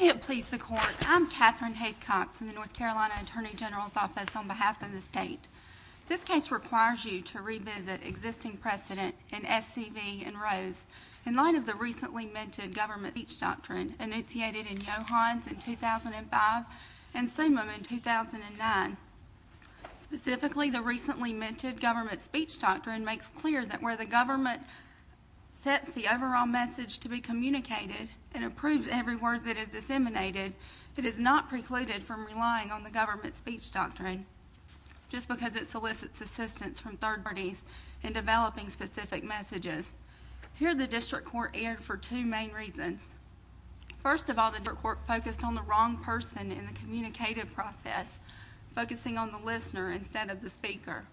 May it please the court, I'm Katherine Haycock from the North Carolina Attorney General's Office on behalf of the state. This case requires you to revisit existing precedent in SCV and Rose in light of the recently minted government speech doctrine initiated in Johans in 2005 and Sumim in 2009. Specifically, the recently minted government speech doctrine makes clear that where the government sets the overall message to be communicated and approves every word that is disseminated, it is not precluded from relying on the government speech doctrine just because it solicits assistance from third parties in developing specific messages. Here the district court erred for two main reasons. First of all, the district court focused on the wrong person in the communicative process, focusing on the listener instead of the speaker.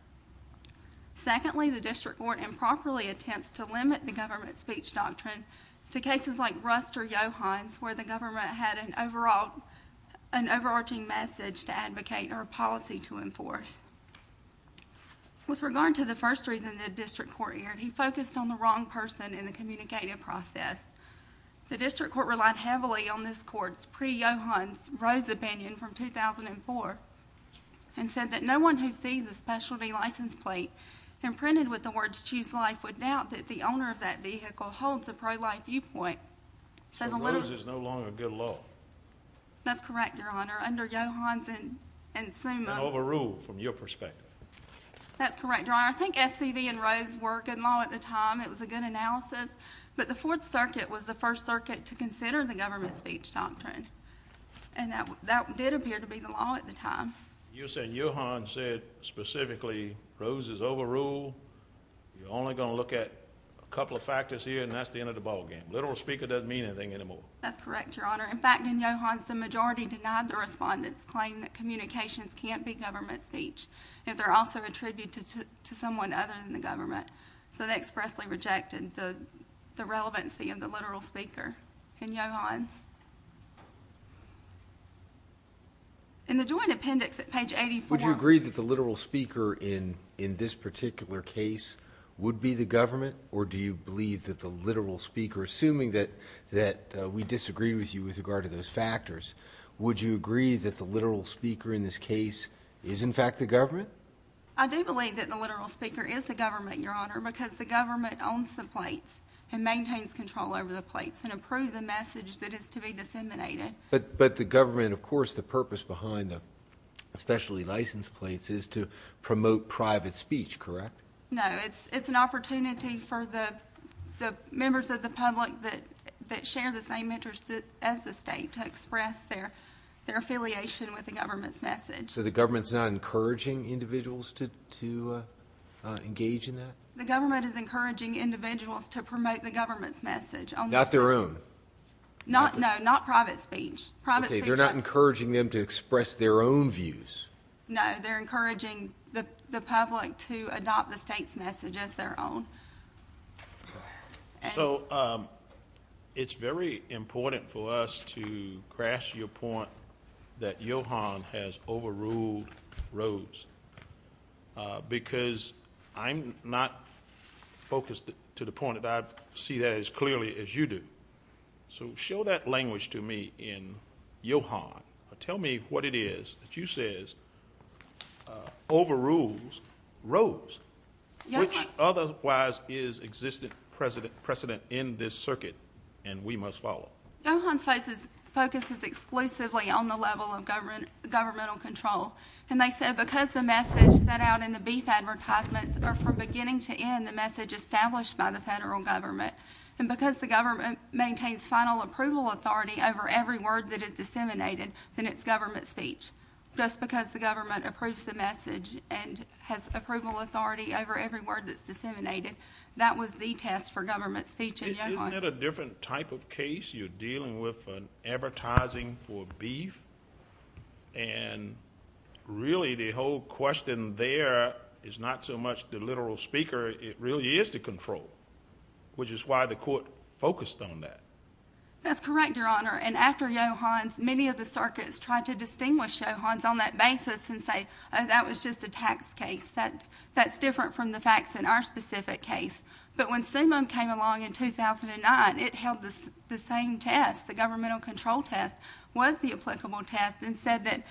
Secondly, the district court improperly attempts to limit the government speech doctrine to cases like Rust or Johans where the government had an overarching message to advocate or a policy to enforce. With regard to the first reason the district court erred, he focused on the wrong person in the communicative process. The district court relied heavily on this court's pre-Johans Rose opinion from 2004 and said that no one who sees a specialty license plate imprinted with the words choose life would doubt that the owner of that vehicle holds a pro-life viewpoint. So Rose is no longer a good law. That's correct, Your Honor. Under Johans and Sumim. An overrule from your perspective. That's correct, Your Honor. I think SCV and Rose were good law at the time. It was a good analysis, but the Fourth Circuit was the first circuit to consider the government speech doctrine. And that did appear to be the law at the time. You said Johans said specifically Rose is overruled. You're only gonna look at a couple of factors here and that's the end of the ballgame. Literal speaker doesn't mean anything anymore. That's correct, Your Honor. In fact, in Johans, the majority denied the respondent's claim that communications can't be government speech if they're also attributed to someone other than the government. So they expressly rejected the relevancy of the literal speaker in Johans. In the joint appendix at page 84. Would you agree that the literal speaker in this particular case would be the government or do you believe that the literal speaker, assuming that we disagree with you with regard to those factors, would you agree that the literal speaker in this case is in fact the government? I do believe that the maintains control over the plates and approve the message that is to be disseminated. But the government, of course, the purpose behind the specially licensed plates is to promote private speech, correct? No, it's an opportunity for the members of the public that share the same interest as the state to express their affiliation with the government's message. So the government's not encouraging individuals to engage in that? The government is encouraging individuals to promote the government's message. Not their own? No, not private speech. Okay, they're not encouraging them to express their own views. No, they're encouraging the public to adopt the state's message as their own. So it's very important for us to grasp your point that Johans has overruled Rose because I'm not focused to the point that I see that as clearly as you do. So show that language to me in Johan. Tell me what it is that you say overrules Rose, which otherwise is existing precedent in this circuit and we must follow. Johan's focus is exclusively on the level of governmental control and they said because the message set out in the beef advertisements are from beginning to end the message established by the federal government and because the government maintains final approval authority over every word that is disseminated, then it's government speech. Just because the government approves the message and has approval authority over every word that's disseminated, that was the test for government speech in Johan. Isn't that a different type of case? You're dealing with an advertising for beef and really the whole question there is not so much the literal speaker, it really is the control, which is why the court focused on that. That's correct, your honor, and after Johan's, many of the circuits tried to distinguish Johan's on that basis and say, oh, that was just a tax case. That's different from the facts in our test. The governmental control test was the applicable test and said that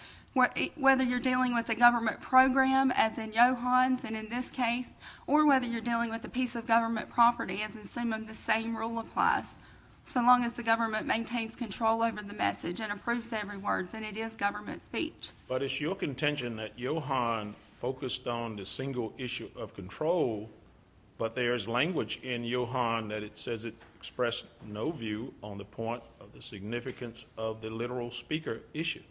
whether you're dealing with a government program, as in Johan's and in this case, or whether you're dealing with a piece of government property, as in Summa, the same rule applies. So long as the government maintains control over the message and approves every word, then it is government speech. But it's your contention that Johan focused on the single issue of control, but there's language in Johan that it says it expressed no view on the point of the significance of the literal speaker issue.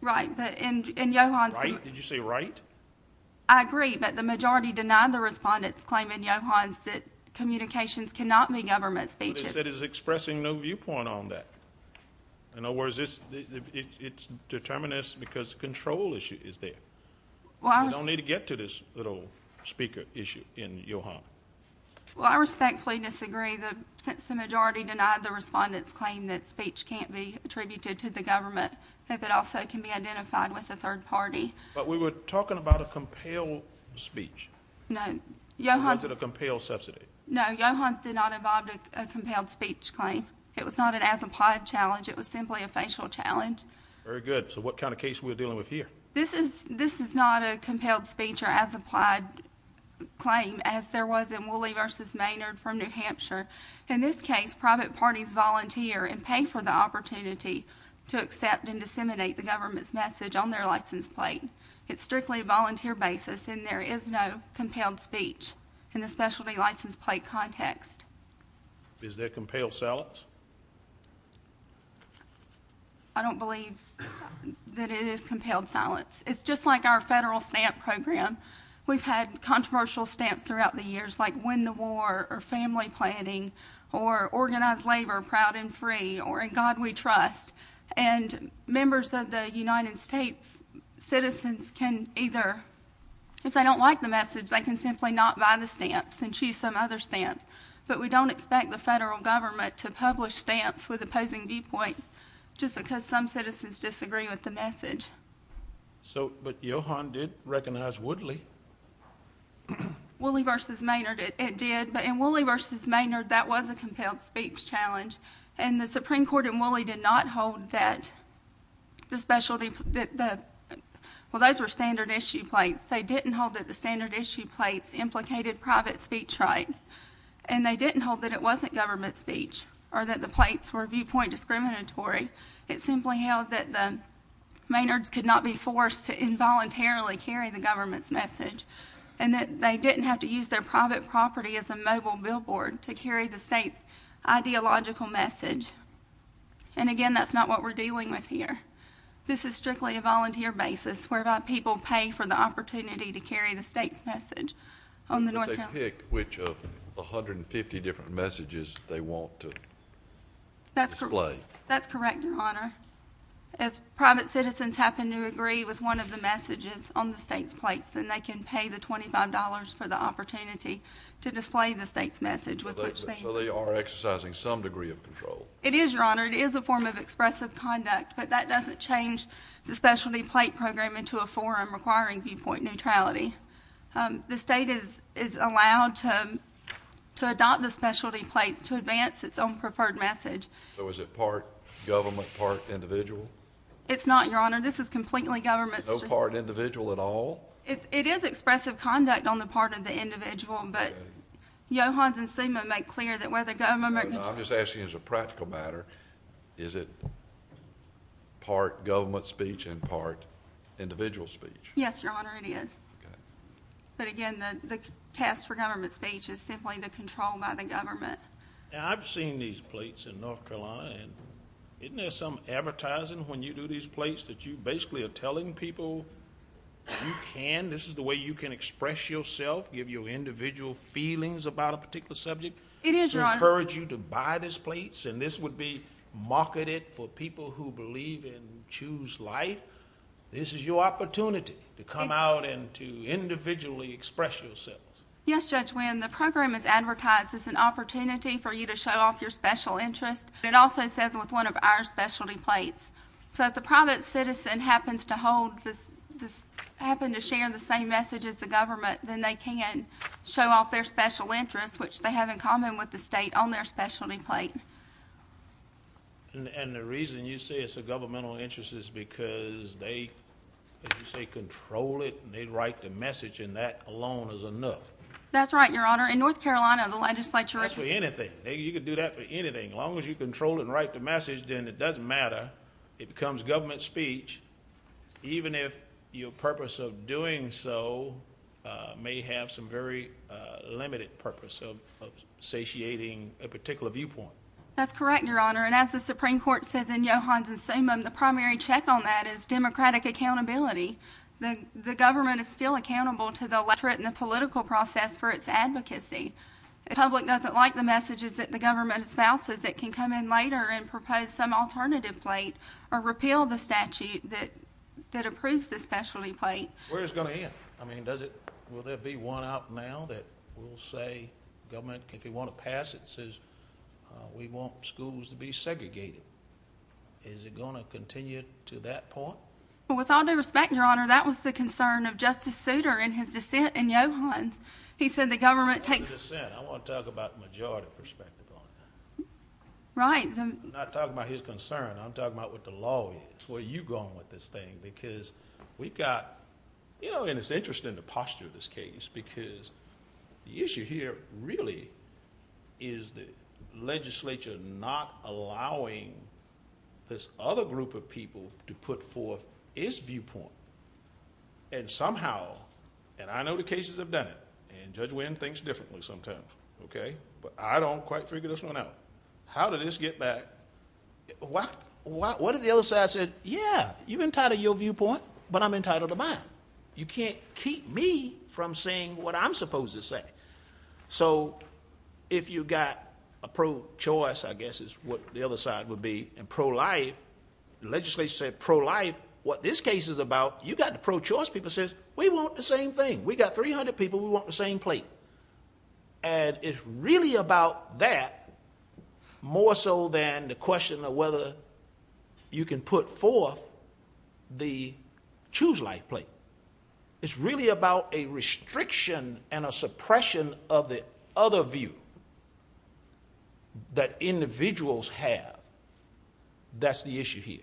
Right, but in Johan's- Right? Did you say right? I agree, but the majority denied the respondent's claim in Johan's that communications cannot be government speech. But it said it's expressing no viewpoint on that. In other words, it's determinist because control issue is there. You don't need to get to this little speaker issue in Johan. Well, I respectfully disagree that since the majority denied the respondent's claim that speech can't be attributed to the government, if it also can be identified with a third party. But we were talking about a compel speech. No, Johan's- Or was it a compel subsidy? No, Johan's did not involve a compelled speech claim. It was not an as-implied challenge. It was simply a facial challenge. Very good. So what kind of case are we dealing with here? This is not a compelled speech or as-applied claim as there was in Woolley versus Maynard from New Hampshire. In this case, private parties volunteer and pay for the opportunity to accept and disseminate the government's message on their license plate. It's strictly a volunteer basis, and there is no compelled speech in the specialty license plate context. Is there compelled salads? I don't believe that it is compelled silence. It's just like our federal stamp program. We've had controversial stamps throughout the years, like win the war or family planning or organize labor proud and free or in God we trust. And members of the United States, citizens can either, if they don't like the message, they can simply not buy the stamps and choose some other stamps. But we don't expect the federal government to publicly publish stamps with opposing viewpoints just because some citizens disagree with the message. So, but Johan did recognize Woodley. Woolley versus Maynard, it did. But in Woolley versus Maynard, that was a compelled speech challenge. And the Supreme Court in Woolley did not hold that the specialty, that the, well, those were standard issue plates. They didn't hold that the standard issue plates implicated private speech rights. And they didn't hold that it wasn't government speech or that the plates were viewpoint discriminatory. It simply held that the Maynards could not be forced to involuntarily carry the government's message and that they didn't have to use their private property as a mobile billboard to carry the state's ideological message. And again, that's not what we're dealing with here. This is strictly a volunteer basis whereby people pay for the opportunity to carry the state's message on display. That's correct. That's correct, Your Honor. If private citizens happen to agree with one of the messages on the state's plates, then they can pay the $25 for the opportunity to display the state's message. So they are exercising some degree of control. It is, Your Honor. It is a form of expressive conduct, but that doesn't change the specialty plate program into a forum requiring viewpoint neutrality. The state is allowed to adopt the specialty plates to advance its own preferred message. So is it part government, part individual? It's not, Your Honor. This is completely government. No part individual at all? It is expressive conduct on the part of the individual, but Johans and Sima make clear that where the government... I'm just asking as a practical matter, is it part government speech and part individual speech? Yes, Your Honor, it is. But again, the task for government speech is simply the control by the government. Now, I've seen these plates in North Carolina, and isn't there some advertising when you do these plates that you basically are telling people you can, this is the way you can express yourself, give your individual feelings about a particular subject, to encourage you to buy these plates, and this would be marketed for people who believe and choose life. This is your opportunity to come out and to individually express yourself. Yes, Judge Wynn, the program is advertised as an opportunity for you to show off your special interest. It also says with one of our specialty plates. So if the private citizen happens to hold this, happen to share the same message as the government, then they can show off their special interest, which they have in common with the state on their specialty plate. And the reason you say it's a governmental interest is because they, as you say, control it, and they write the message, and that alone is enough. That's right, Your Honor. In North Carolina, the legislature... That's for anything. You could do that for anything. As long as you control it and write the message, then it doesn't matter. It becomes government speech, even if your purpose of doing so may have some very limited purpose of satiating a particular viewpoint. That's correct, Your Honor. And as the Supreme Court says in accountability, the government is still accountable to the electorate and the political process for its advocacy. If the public doesn't like the messages that the government espouses, it can come in later and propose some alternative plate or repeal the statute that approves the specialty plate. Where is it going to end? I mean, will there be one out now that will say government, if you want to pass it, says we want schools to be segregated? Is it going to continue to that point? Well, with all due respect, Your Honor, that was the concern of Justice Souter in his dissent in Yohannes. He said the government takes... I'm not talking about his dissent. I want to talk about the majority perspective, Your Honor. Right. I'm not talking about his concern. I'm talking about what the law is, where you're going with this thing, because we've got... You know, and it's interesting the posture of this case, because the issue here really is the legislature not allowing this other group of people to put forth its viewpoint. And somehow, and I know the cases have done it, and Judge Winn thinks differently sometimes, okay? But I don't quite figure this one out. How did this get back? What if the other side said, yeah, you've entitled your viewpoint, but I'm entitled to mine? You can't keep me from saying what I'm supposed to say. So if you've got a pro-choice, I guess is what the other side would be, and pro-life, legislature said pro-life, what this case is about, you've got the pro-choice people says, we want the same thing. We've got 300 people. We want the same plate. And it's really about that more so than the question of whether you can put forth the choose life plate. It's really about a restriction and a suppression of the other view that individuals have. That's the issue here.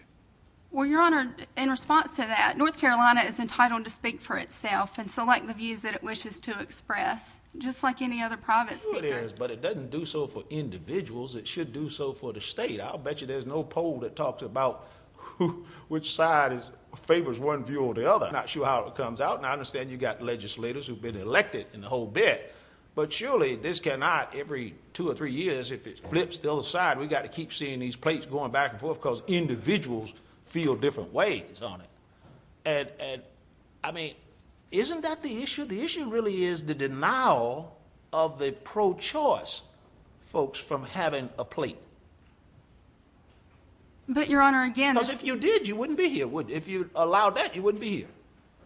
Well, Your Honor, in response to that, North Carolina is entitled to speak for itself and select the views that it wishes to express, just like any other private but it doesn't do so for individuals. It should do so for the state. I'll bet you there's no poll that talks about which side favors one view or the other. Not sure how it comes out. And I understand you've got legislators who've been elected in the whole bit, but surely this cannot every two or three years, if it flips the other side, we got to keep seeing these plates going back and forth because individuals feel different ways on it. And I mean, isn't that the issue? The denial of the pro-choice folks from having a plate. But Your Honor, again... Because if you did, you wouldn't be here. If you allowed that, you wouldn't be here.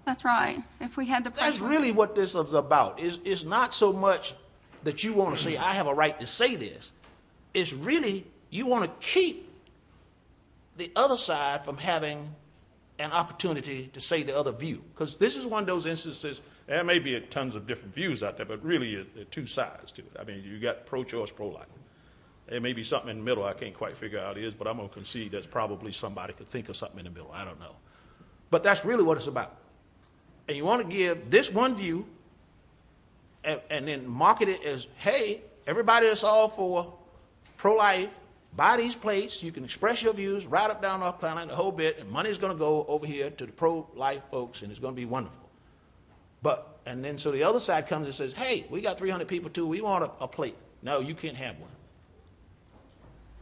That's right. If we had the... That's really what this is about. It's not so much that you want to say, I have a right to say this. It's really, you want to keep the other side from having an opportunity to say the other view. Because this is one of those instances, there may be tons of different views out there, but really there are two sides to it. I mean, you've got pro-choice, pro-life. There may be something in the middle I can't quite figure out is, but I'm going to concede that's probably somebody could think of something in the middle, I don't know. But that's really what it's about. And you want to give this one view and then market it as, hey, everybody that's all for pro-life, buy these plates, you can express your views right up down North Carolina in the whole and money's going to go over here to the pro-life folks and it's going to be wonderful. And then so the other side comes and says, hey, we got 300 people too, we want a plate. No, you can't have one.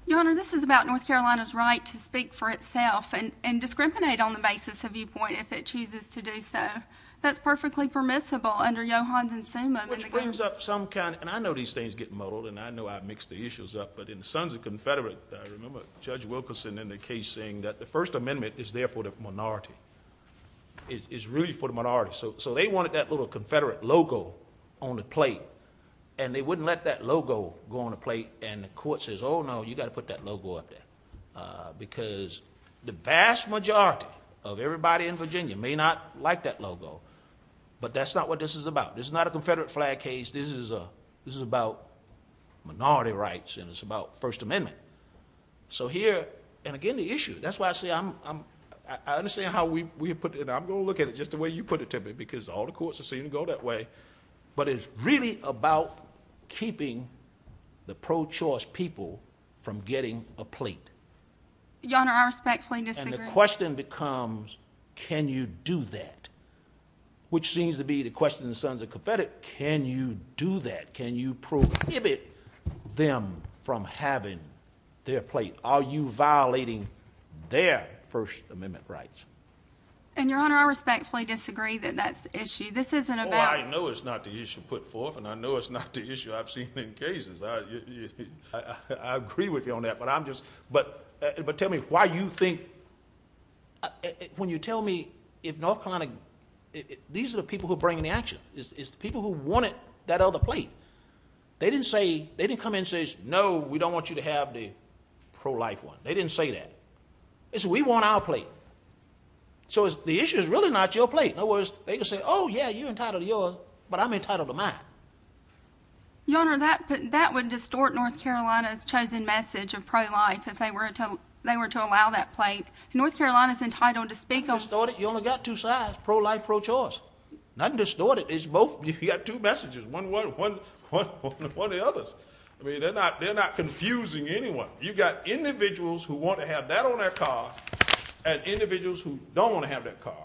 Your Honor, this is about North Carolina's right to speak for itself and discriminate on the basis of viewpoint if it chooses to do so. That's perfectly permissible under Johansson-Summa. Which brings up some kind, and I know these things get muddled, and I know I mixed the issues up, but in the Sons of the Confederate, I remember Judge Wilkerson in the case saying that the First Amendment is there for the minority, is really for the minority. So they wanted that little Confederate logo on the plate and they wouldn't let that logo go on the plate and the court says, oh, no, you got to put that logo up there. Because the vast majority of everybody in Virginia may not like that logo, but that's not what this is about. This is not a Confederate flag case. This is about minority rights and it's about First Amendment. So here, and again, the issue, that's why I say, I understand how we put it, and I'm going to look at it just the way you put it to me because all the courts have seen it go that way, but it's really about keeping the pro-choice people from getting a plate. Your Honor, I respectfully disagree. And the question becomes, can you do that? Which seems to be the question in the Sons of the Confederate, can you do that? Can you prohibit them from having their plate? Are you violating their First Amendment rights? And Your Honor, I respectfully disagree that that's the issue. This isn't about- Well, I know it's not the issue put forth and I know it's not the issue I've seen in cases. I agree with you on that, but I'm just, but tell me why you think, when you tell me if North Carolina, these are the people who are bringing the action, it's the people who that other plate. They didn't say, they didn't come in and say, no, we don't want you to have the pro-life one. They didn't say that. They said, we want our plate. So the issue is really not your plate. In other words, they can say, oh yeah, you're entitled to yours, but I'm entitled to mine. Your Honor, that would distort North Carolina's chosen message of pro-life if they were to allow that plate. North Carolina's entitled to speak on- Distort it? You only got two sides, pro-life, pro-choice. Nothing distorted. You got two messages, one, one, one, one, one of the others. I mean, they're not, they're not confusing anyone. You've got individuals who want to have that on their car and individuals who don't want to have that car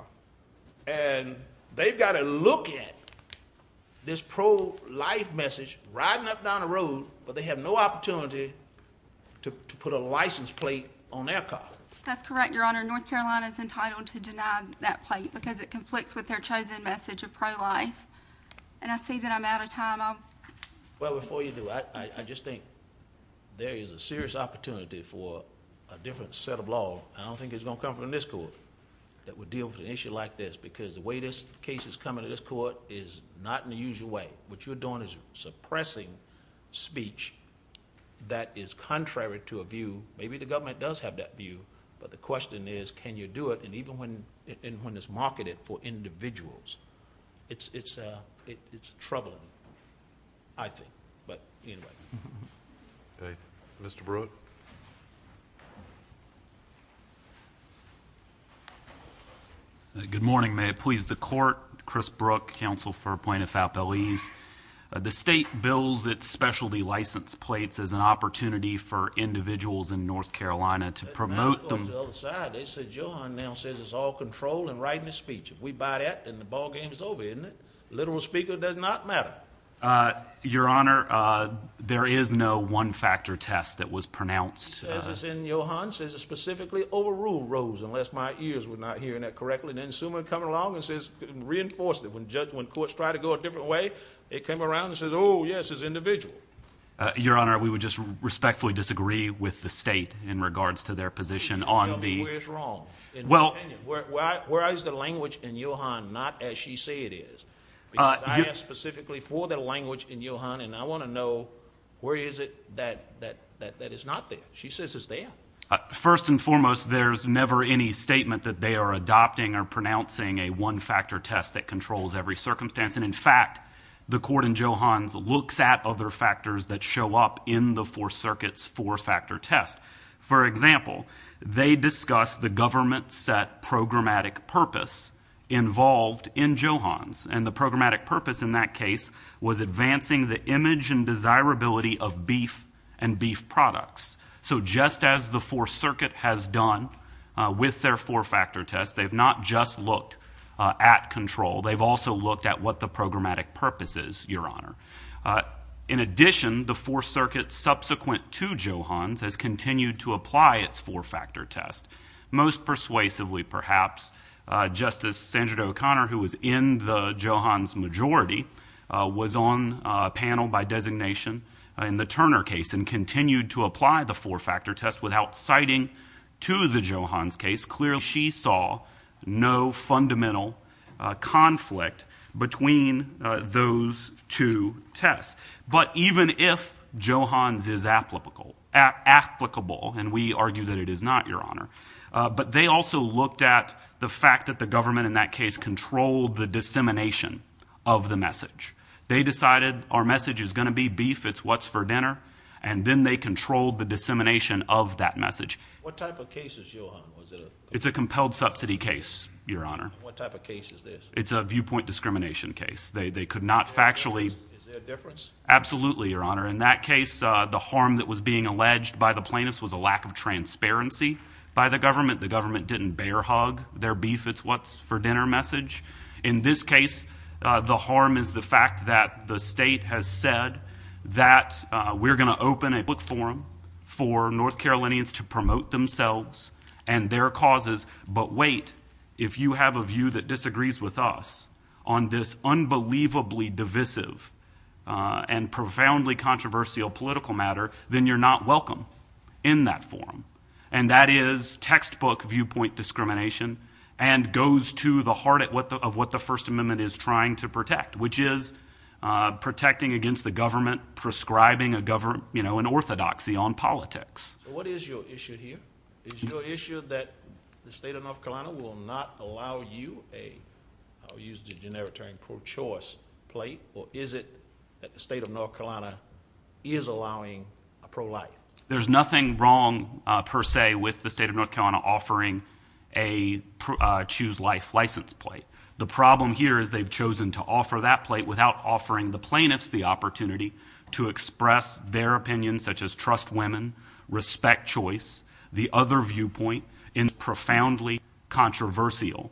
and they've got to look at this pro-life message riding up down the road, but they have no opportunity to put a license plate on their car. That's correct, Your Honor. North Carolina is entitled to deny that plate because it conflicts with their chosen message of pro-life and I see that I'm out of time. Well, before you do, I just think there is a serious opportunity for a different set of law. I don't think it's going to come from this court that would deal with an issue like this because the way this case is coming to this court is not in the usual way. What you're doing is suppressing speech that is contrary to a view. Maybe the government does have that view, but the question is, can you do it? Even when it's marketed for individuals, it's troubling, I think. Mr. Brooke? Good morning. May it please the court. Chris Brooke, counsel for Plaintiff Appellees. The state bills its specialty license plates as an opportunity for individuals in North Carolina to promote them. Johan now says it's all control and right in his speech. If we buy that, then the ball game is over, isn't it? Literal speaker does not matter. Your Honor, there is no one-factor test that was pronounced. As is in Johan, says it specifically overruled Rose, unless my ears were not hearing that correctly. Then Sumer comes along and says, reinforces that when courts try to go a different way, they come around and say, oh, yes, it's individual. Your Honor, we would just respectfully disagree with the state in regards to their position on the... Tell me where it's wrong. Where is the language in Johan not as she said it is? I asked specifically for the language in Johan, and I want to know, where is it that is not there? She says it's there. First and foremost, there's never any statement that they are adopting or pronouncing a one-factor test that controls every circumstance. In fact, the court in Johan's looks at other factors that show up in the Fourth Circuit's four-factor test. For example, they discuss the government-set programmatic purpose involved in Johan's, and the programmatic purpose in that case was advancing the image and desirability of beef and beef products. So just as the Fourth Circuit has done with their four-factor test, they've not just looked at control. They've also looked at what the programmatic purpose is, Your Honor. In addition, the Fourth Circuit, subsequent to Johan's, has continued to apply its four-factor test. Most persuasively, perhaps, Justice Sandra O'Connor, who was in the Johan's majority, was on a panel by designation in the Turner case and continued to apply the four-factor test without citing to the Johan's case. Clearly, she saw no fundamental conflict between those two tests. But even if Johan's is applicable, and we argue that it is not, Your Honor, but they also looked at the fact that the government in that case controlled the dissemination of the message. They decided our message is going to be beef, it's what's for dinner, and then they controlled the dissemination of that message. What type of case is Johan's? It's a compelled subsidy case, Your Honor. What type of case is this? It's a viewpoint discrimination case. They could not factually... Is there a difference? Absolutely, Your Honor. In that case, the harm that was being alleged by the plaintiffs was a lack of transparency by the government. The government didn't bear hug their beef, it's what's for dinner message. In this case, the harm is the fact that the state has said that we're going to open a case, we're going to open a case, we're going to open a case, we're going to open a case to promote themselves and their causes, but wait, if you have a view that disagrees with us on this unbelievably divisive and profoundly controversial political matter, then you're not welcome in that forum. And that is textbook viewpoint discrimination, and goes to the heart of what the First Amendment is trying to protect, which is protecting against the government prescribing an orthodoxy on politics. What is your issue here? Is your issue that the state of North Carolina will not allow you a, I'll use the generic term, pro-choice plate, or is it that the state of North Carolina is allowing a pro-life? There's nothing wrong, per se, with the state of North Carolina offering a choose life license plate. The problem here is they've chosen to offer that plate without offering the plaintiffs the opportunity to express their opinion, such as trust women, respect choice, the other viewpoint in a profoundly controversial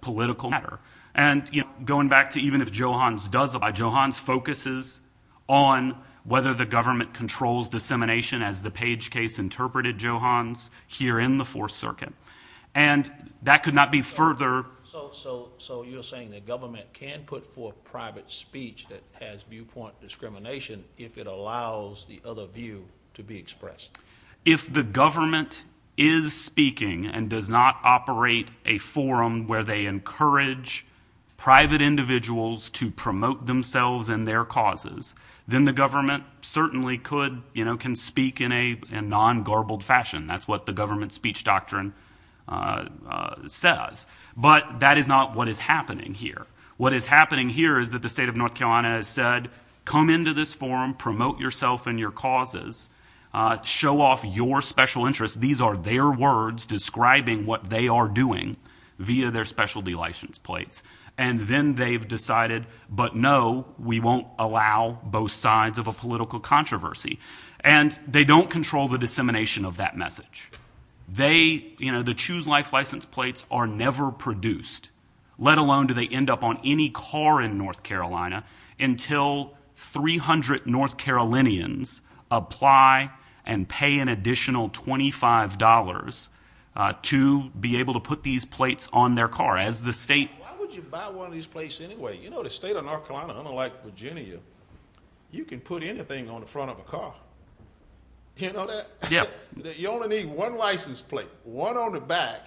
political matter. And, you know, going back to even if Johans does it, Johans focuses on whether the government controls dissemination as the Page case interpreted Johans here in the Fourth Circuit. And that could not be further. So you're saying the government can put forth private speech that has viewpoint discrimination if it allows the other view to be expressed? If the government is speaking and does not operate a forum where they encourage private individuals to promote themselves and their causes, then the government certainly could, you know, can speak in a non-garbled fashion. That's what the government speech doctrine says. But that is not what is happening here. What is happening here is that the state of North Carolina has said, come into this forum, promote yourself and your causes, show off your special interests. These are their words describing what they are doing via their specialty license plates. And then they've decided, but no, we won't allow both sides of a political controversy. And they don't control the dissemination of that message. They, you know, the Choose Life license plates are never produced, let alone do they end up on any car in North Carolina until 300 North Carolinians apply and pay an additional $25 to be able to put these plates on their car as the state. Why would you buy one of these plates anyway? You know, the state of North Carolina, unlike Virginia, you can put anything on the front of a car. You know that? Yeah. You only need one license plate, one on the back.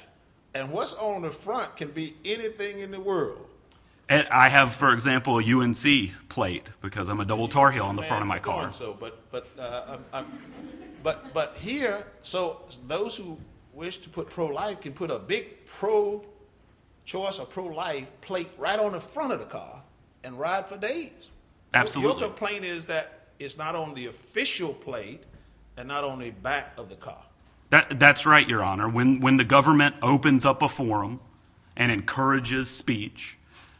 And what's on the front can be anything in the world. And I have, for example, a UNC plate because I'm a double tar heel on the front of my car. But here, so those who wish to put pro-life can put a big pro choice or pro-life plate right on the front of the car and ride for days. Absolutely. The complaint is that it's not on the official plate and not on the back of the car. That's right, Your Honor. When the government opens up a forum and encourages speech,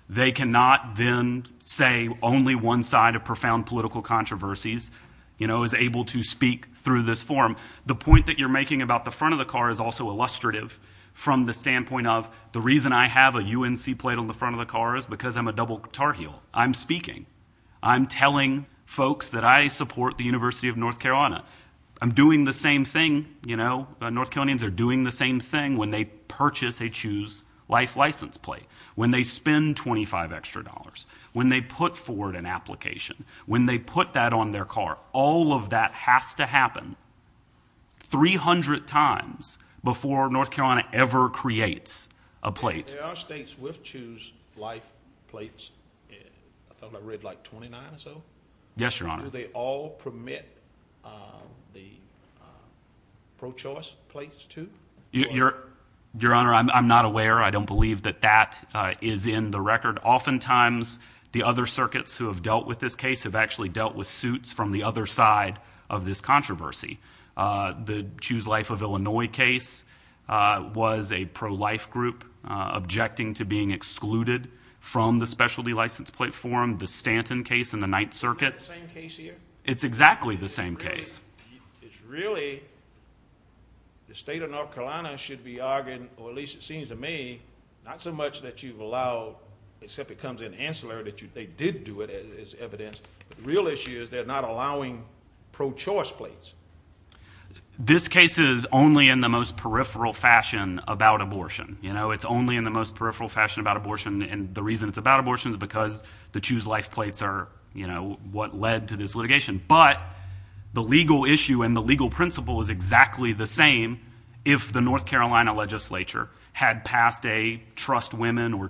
they cannot then say only one side of profound political controversies, you know, is able to speak through this forum. The point that you're making about the front of the car is also illustrative from the standpoint of the reason I have a UNC plate on the front of the car is because I'm a double tar heel. I'm speaking. I'm telling folks that I support the University of North Carolina. I'm doing the same thing, you know. North Carolinians are doing the same thing when they purchase a Choose Life license plate, when they spend 25 extra dollars, when they put forward an application, when they put that on their car. All of that has to happen 300 times before North Carolina ever creates a plate. There are states with Choose Life plates. I thought I read like 29 or so. Yes, Your Honor. Do they all permit the pro-choice plates too? Your Honor, I'm not aware. I don't believe that that is in the record. Oftentimes, the other circuits who have dealt with this case have actually dealt with suits from the other side of this controversy. The Choose Life of Illinois case was a pro-life group objecting to being excluded from the specialty license plate form, the Stanton case in the Ninth Circuit. Is that the same case here? It's exactly the same case. It's really the state of North Carolina should be arguing, or at least it seems to me, not so much that you've allowed, except it comes in ancillary that they did do it as evidence. The real issue is they're not allowing pro-choice plates. This case is only in the most peripheral fashion about abortion. It's only in the most peripheral fashion about abortion. The reason it's about abortion is because the Choose Life plates are what led to this litigation. But the legal issue and the legal principle is exactly the same if the North Carolina legislature had passed a trust women or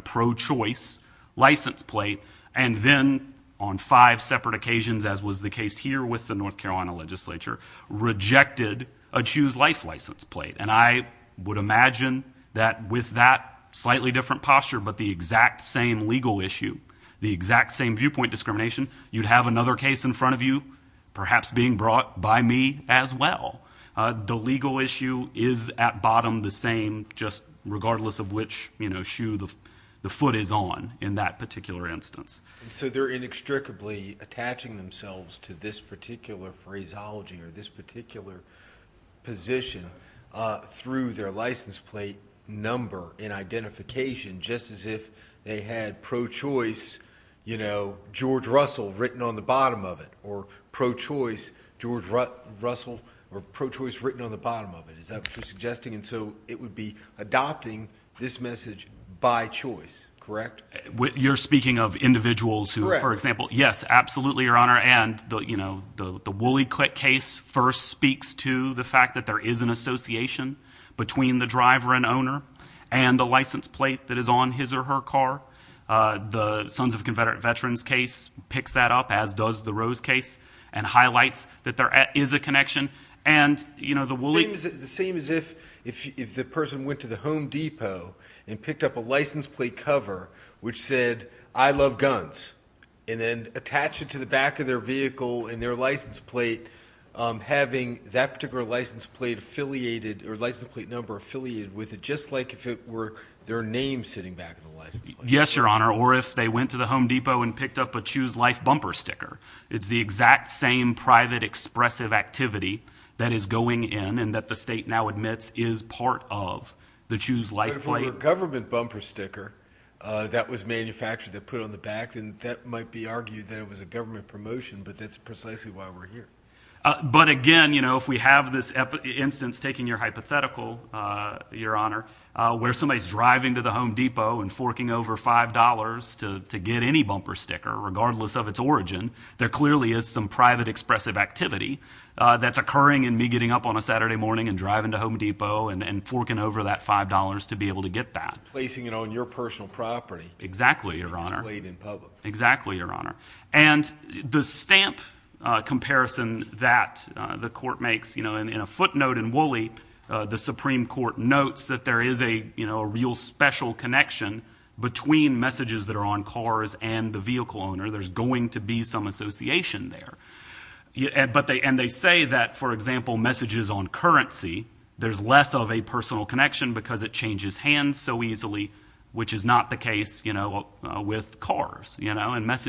pro-choice license plate and then on five separate occasions, as was the case here with the North Carolina legislature, rejected a Choose Life license plate. I would imagine that with that slightly different posture, but the exact same legal issue, the exact same viewpoint discrimination, you'd have another case in front of you, perhaps being brought by me as well. The legal issue is at bottom the same, just regardless of which shoe the foot is on in that particular instance. So they're inextricably attaching themselves to this particular phraseology or this particular position through their license plate number and identification, just as if they had pro-choice George Russell written on the bottom of it or pro-choice George Russell or pro-choice written on the bottom of it. Is that what you're suggesting? And so it would be adopting this message by choice, correct? You're speaking of individuals who, for example, yes, absolutely, Your Honor. And the Woolly Click case first speaks to the fact that there is an association between the driver and owner and the license plate that is on his or her car. The Sons of Confederate Veterans case picks that up, as does the Rose case, and highlights that there is a connection. And, you know, the Woolly- The same as if the person went to the Home Depot and picked up a license plate cover which said, I love guns, and then attach it to the back of their vehicle and their license plate, having that particular license plate affiliated or license plate number affiliated with it, just like if it were their name sitting back in the license plate. Yes, Your Honor. Or if they went to the Home Depot and picked up a Choose Life bumper sticker. It's the exact same private, expressive activity that is going in and that the state now admits is part of the Choose Life plate. But if it were a government bumper sticker that was manufactured that put on the back, then that might be argued that it was a government promotion. But that's precisely why we're here. But again, you know, if we have this instance, taking your hypothetical, Your Honor, where somebody's driving to the Home Depot and forking over $5 to get any bumper sticker, regardless of its origin, there clearly is some private, expressive activity that's occurring in me getting up on a Saturday morning and driving to Home Depot and forking over that $5 to be able to get that. Placing it on your personal property. Exactly, Your Honor. And displayed in public. Exactly, Your Honor. And the stamp comparison that the court makes, you know, in a footnote in Woolly, the Supreme Court notes that there is a, you know, a real special connection between messages that are on cars and the vehicle owner. There's going to be some association there. And they say that, for example, messages on currency, there's less of a personal connection because it changes hands so easily, which is not the case, you know, with cars, you I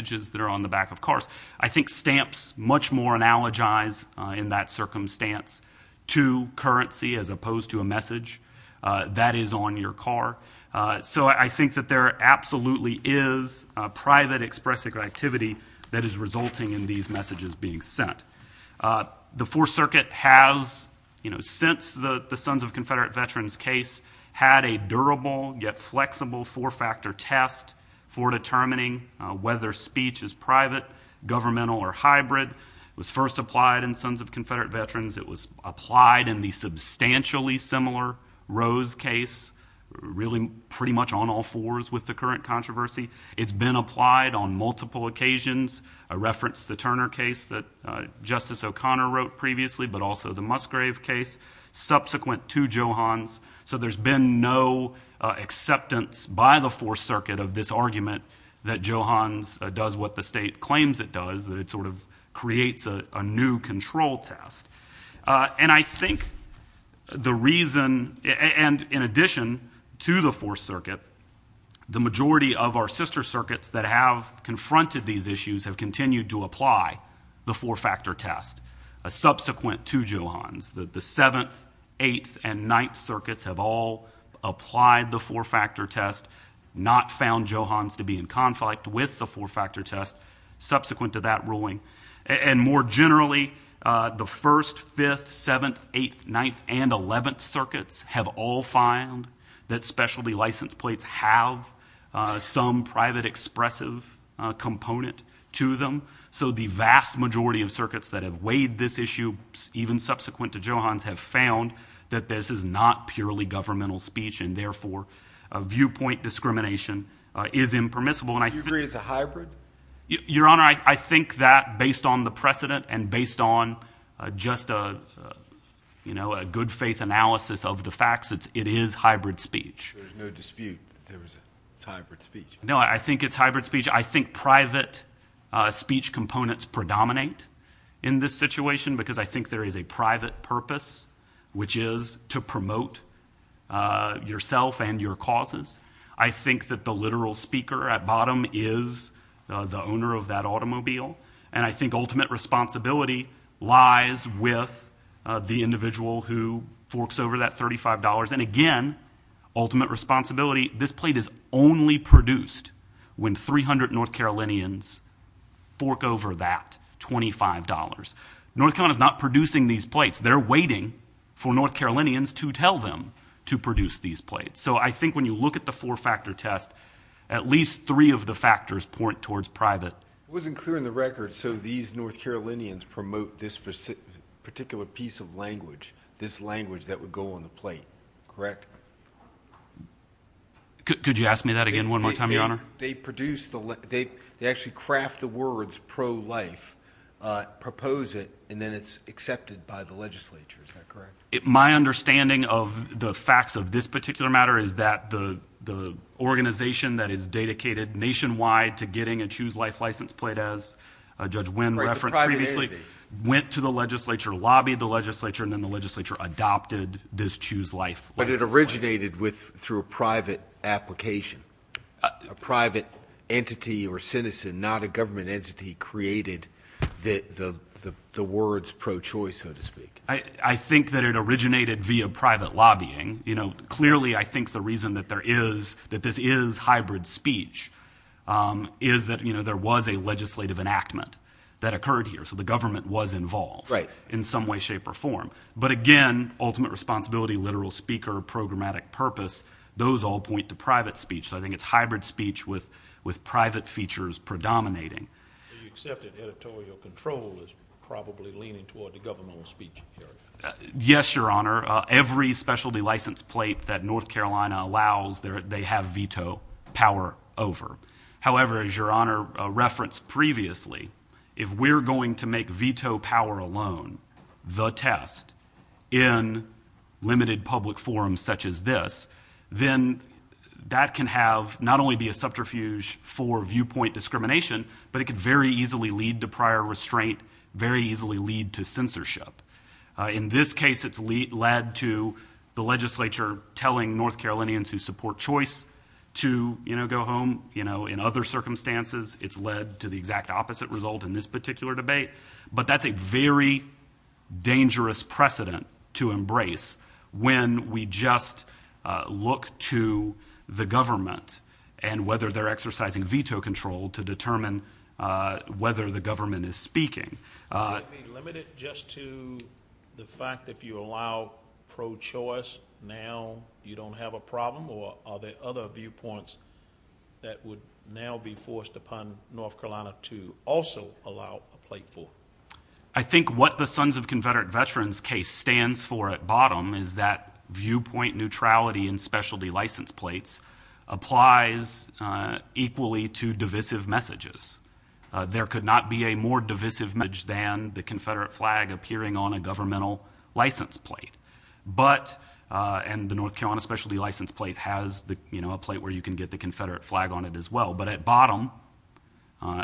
think stamps much more analogize in that circumstance to currency as opposed to a message that is on your car. So I think that there absolutely is a private, expressive activity that is resulting in these messages being sent. The Fourth Circuit has, you know, since the Sons of Confederate Veterans case, had a durable yet flexible four-factor test for determining whether speech is private, governmental, or hybrid. It was first applied in Sons of Confederate Veterans. It was applied in the substantially similar Rose case, really pretty much on all fours with the current controversy. It's been applied on multiple occasions. I referenced the Turner case that Justice O'Connor wrote previously, but also the Musgrave case, subsequent to Johan's. So there's been no acceptance by the Fourth Circuit of this argument that Johan's does what the state claims it does, that it sort of creates a new control test. And I think the reason, and in addition to the Fourth Circuit, the majority of our sister circuits that have confronted these issues have continued to apply the four-factor test, subsequent to Johan's. The Seventh, Eighth, and Ninth Circuits have all applied the four-factor test, not found Johan's to be in conflict with the four-factor test, subsequent to that ruling. And more generally, the First, Fifth, Seventh, Eighth, Ninth, and Eleventh Circuits have all found that specialty license plates have some private, expressive component to them. So the vast majority of circuits that have weighed this issue, even subsequent to Johan's, have found that this is not purely governmental speech, and therefore viewpoint discrimination is impermissible. Do you agree it's a hybrid? Your Honor, I think that based on the precedent and based on just a good faith analysis of the facts, it is hybrid speech. There's no dispute that it's hybrid speech. No, I think it's hybrid speech. I think private speech components predominate in this situation because I think there is a private purpose, which is to promote yourself and your causes. I think that the literal speaker at bottom is the owner of that automobile, and I think ultimate responsibility lies with the individual who forks over that $35. And again, ultimate responsibility, this plate is only produced when 300 North Carolinians fork over that $25. North Carolina is not producing these plates. They're waiting for North Carolinians to tell them to produce these plates. So I think when you look at the four-factor test, at least three of the factors point towards private. It wasn't clear in the record, so these North Carolinians promote this particular piece of language, this language that would go on the plate, correct?...... Could you ask me that again one more time, Your Honor?... They produce the... They actually craft the words pro-life, propose it, and then it's accepted by the legislature. Is that correct? My understanding of the facts of this particular matter is that the organization that is dedicated nationwide to getting a Choose Life license plate, as Judge Winn referenced previously, went to the legislature, lobbied the legislature, and then the legislature adopted this Choose Life license plate. But it originated through a private application. A private entity or citizen, not a government entity, created the words pro-choice, so to speak. I think that it originated via private lobbying. Clearly, I think the reason that this is hybrid speech is that there was a legislative enactment that occurred here. So the government was involved in some way, shape, or form. But again, ultimate responsibility, literal speaker, programmatic purpose, those all point to private speech. So I think it's hybrid speech with private features predominating. Do you accept that editorial control is probably leaning toward the governmental speech area? Yes, Your Honor. Every specialty license plate that North Carolina allows, they have veto power over. However, as Your Honor referenced previously, if we're going to make veto power alone, the test, in limited public forums such as this, then that can have not only be a subterfuge for viewpoint discrimination, but it could very easily lead to prior restraint, very easily lead to censorship. In this case, it's led to the legislature telling North Carolinians who support choice to go home. In other circumstances, it's led to the exact opposite result in this particular debate. But that's a very dangerous precedent to embrace when we just look to the government and whether they're exercising veto control to determine whether the government is speaking. Would it be limited just to the fact that if you allow pro-choice, now you don't have a problem, or are there other viewpoints that would now be forced upon North Carolina to also allow a plate for? I think what the Sons of Confederate Veterans case stands for at bottom is that viewpoint neutrality in specialty license plates applies equally to divisive messages. There could not be a more divisive message than the Confederate flag appearing on a governmental license plate. And the North Carolina specialty license plate has a plate where you can get the Confederate flag on it as well. But at bottom,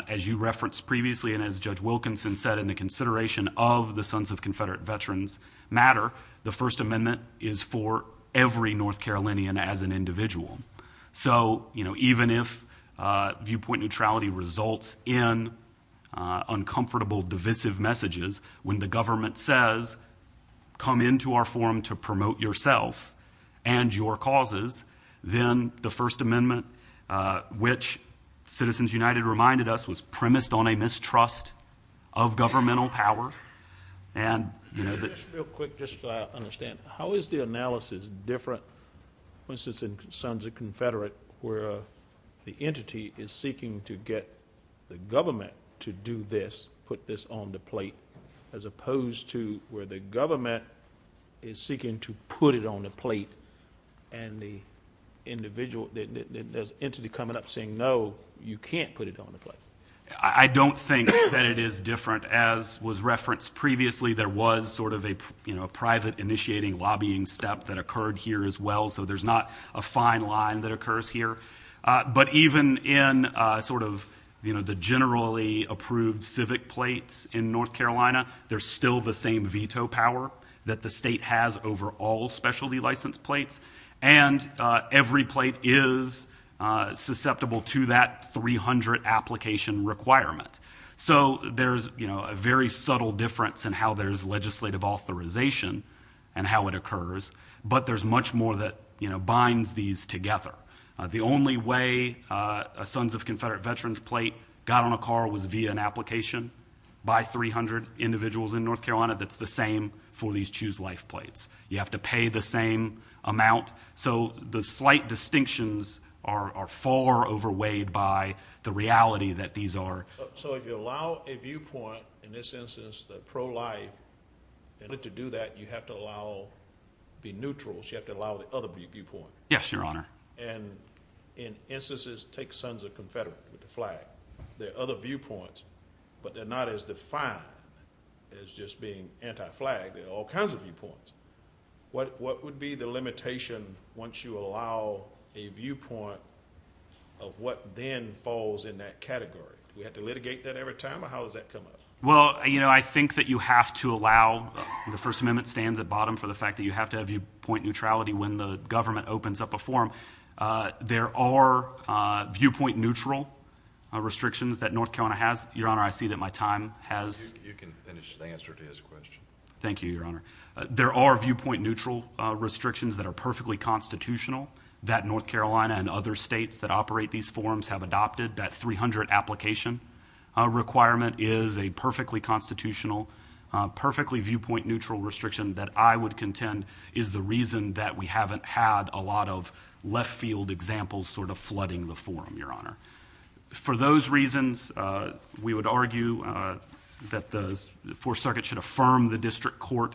as you referenced previously and as Judge Wilkinson said in the consideration of the Sons of Confederate Veterans matter, the First Amendment is for every North Carolinian as an individual. So even if viewpoint neutrality results in uncomfortable divisive messages, when the come into our forum to promote yourself and your causes, then the First Amendment, which Citizens United reminded us, was premised on a mistrust of governmental power. And you know that- Just real quick, just so I understand, how is the analysis different, for instance, in Sons of Confederate where the entity is seeking to get the government to do this, put this on the plate, as opposed to where the government is seeking to put it on the plate and the individual, there's an entity coming up saying, no, you can't put it on the plate. I don't think that it is different. As was referenced previously, there was sort of a private initiating lobbying step that occurred here as well. So there's not a fine line that occurs here. But even in sort of the generally approved civic plates in North Carolina, there's still the same veto power that the state has over all specialty license plates. And every plate is susceptible to that 300 application requirement. So there's a very subtle difference in how there's legislative authorization and how it occurs. But there's much more that binds these together. The only way a Sons of Confederate Veterans plate got on a car was via an application by 300 individuals in North Carolina that's the same for these Choose Life plates. You have to pay the same amount. So the slight distinctions are far overweighed by the reality that these are- So if you allow a viewpoint, in this instance, the pro-life, in order to do that, you have to allow the neutrals. You have to allow the other viewpoint. Yes, Your Honor. And in instances, take Sons of Confederate with the flag. There are other viewpoints, but they're not as defined as just being anti-flag. There are all kinds of viewpoints. What would be the limitation once you allow a viewpoint of what then falls in that category? Do we have to litigate that every time? Or how does that come up? Well, I think that you have to allow- The First Amendment stands at bottom for the fact that you have to have viewpoint neutrality when the government opens up a form. There are viewpoint-neutral restrictions that North Carolina has. Your Honor, I see that my time has- You can finish the answer to his question. Thank you, Your Honor. There are viewpoint-neutral restrictions that are perfectly constitutional that North Carolina and other states that operate these forms have adopted. That 300 application requirement is a perfectly constitutional, perfectly viewpoint-neutral restriction that I would contend is the reason that we haven't had a lot of left-field examples sort of flooding the forum, Your Honor. For those reasons, we would argue that the Fourth Circuit should affirm the district court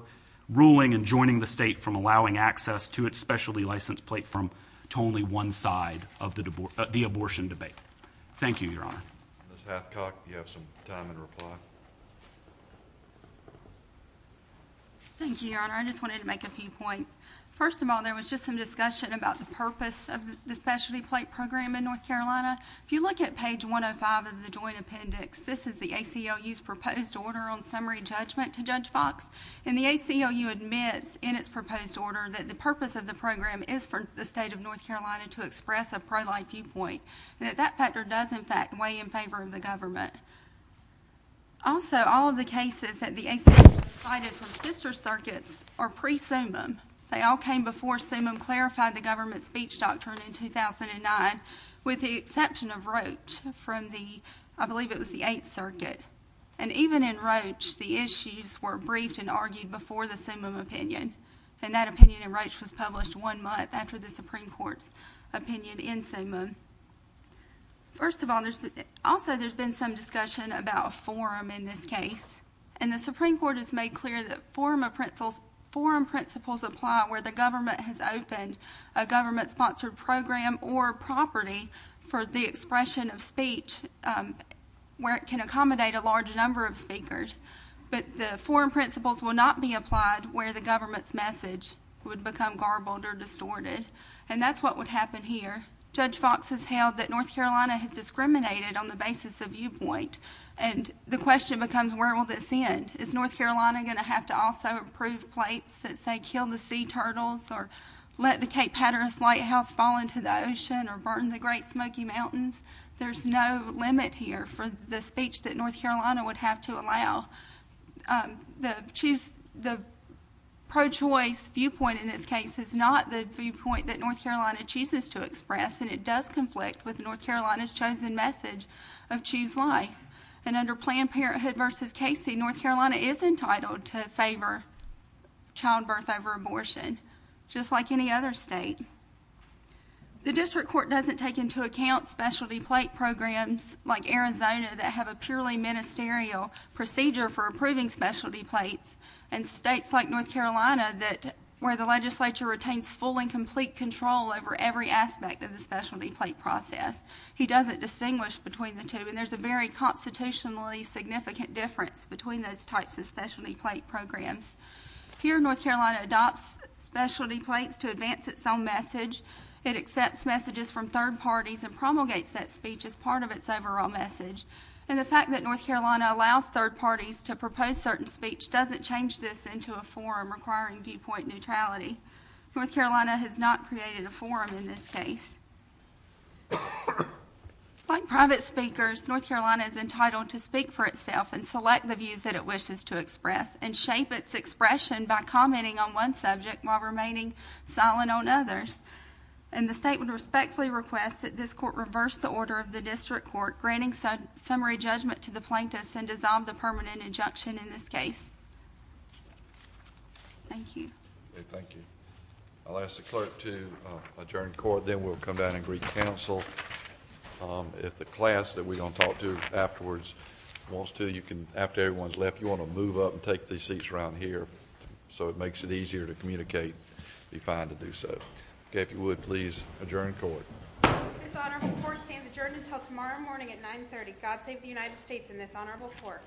ruling and joining the state from allowing access to its specialty license plate from to only one side of the abortion debate. Thank you, Your Honor. Ms. Hathcock, you have some time in reply. Thank you, Your Honor. I just wanted to make a few points. First of all, there was just some discussion about the purpose of the specialty plate program in North Carolina. If you look at page 105 of the Joint Appendix, this is the ACLU's proposed order on summary judgment to Judge Fox. And the ACLU admits in its proposed order that the purpose of the program is for the state of North Carolina to express a pro-life viewpoint and that that factor does, in fact, weigh in favor of the government. Also, all of the cases that the ACLU cited from sister circuits are pre-SUMMUM. They all came before SUMMUM clarified the government speech doctrine in 2009, with the exception of Roche from the, I believe it was the Eighth Circuit. And even in Roche, the issues were briefed and argued before the SUMMUM opinion. And that opinion in Roche was published one month after the Supreme Court's opinion in SUMMUM. First of all, also, there's been some discussion about forum in this case. And the Supreme Court has made clear that forum principles apply where the government has opened a government-sponsored program or property for the expression of speech where it can accommodate a large number of speakers. But the forum principles will not be applied where the government's message would become garbled or distorted. And that's what would happen here. Judge Fox has held that North Carolina has discriminated on the basis of viewpoint. And the question becomes, where will this end? Is North Carolina going to have to also approve plates that say, kill the sea turtles or let the Cape Hatteras lighthouse fall into the ocean or burn the Great Smoky Mountains? There's no limit here for the speech that North Carolina would have to allow. The pro-choice viewpoint in this case is not the viewpoint that North Carolina chooses to express, and it does conflict with North Carolina's chosen message of choose life. And under Planned Parenthood v. Casey, North Carolina is entitled to favor child birth over abortion, just like any other state. The district court doesn't take into account specialty plate programs like Arizona that have a purely ministerial procedure for approving specialty plates, and states like North Carolina where the legislature retains full and complete control over every aspect of the specialty plate process. He doesn't distinguish between the two. And there's a very constitutionally significant difference between those types of specialty plate programs. Here, North Carolina adopts specialty plates to advance its own message. It accepts messages from third parties and promulgates that speech as part of its overall message. And the fact that North Carolina allows third parties to propose certain speech doesn't change this into a forum requiring viewpoint neutrality. North Carolina has not created a forum in this case. Like private speakers, North Carolina is entitled to speak for itself and select the views that it wishes to express and shape its expression by commenting on one subject while remaining silent on others. And the state would respectfully request that this court reverse the order of the district court granting summary judgment to the plaintiffs and dissolve the permanent injunction in this case. Thank you. Okay, thank you. I'll ask the clerk to adjourn court. Then we'll come down and greet counsel. If the class that we're going to talk to afterwards wants to, you can, after everyone's left, you want to move up and take these seats around here so it makes it easier to communicate, be fine to do so. Okay, if you would please adjourn court. This honorable court stands adjourned until tomorrow morning at 9 30. God save the United States and this honorable court.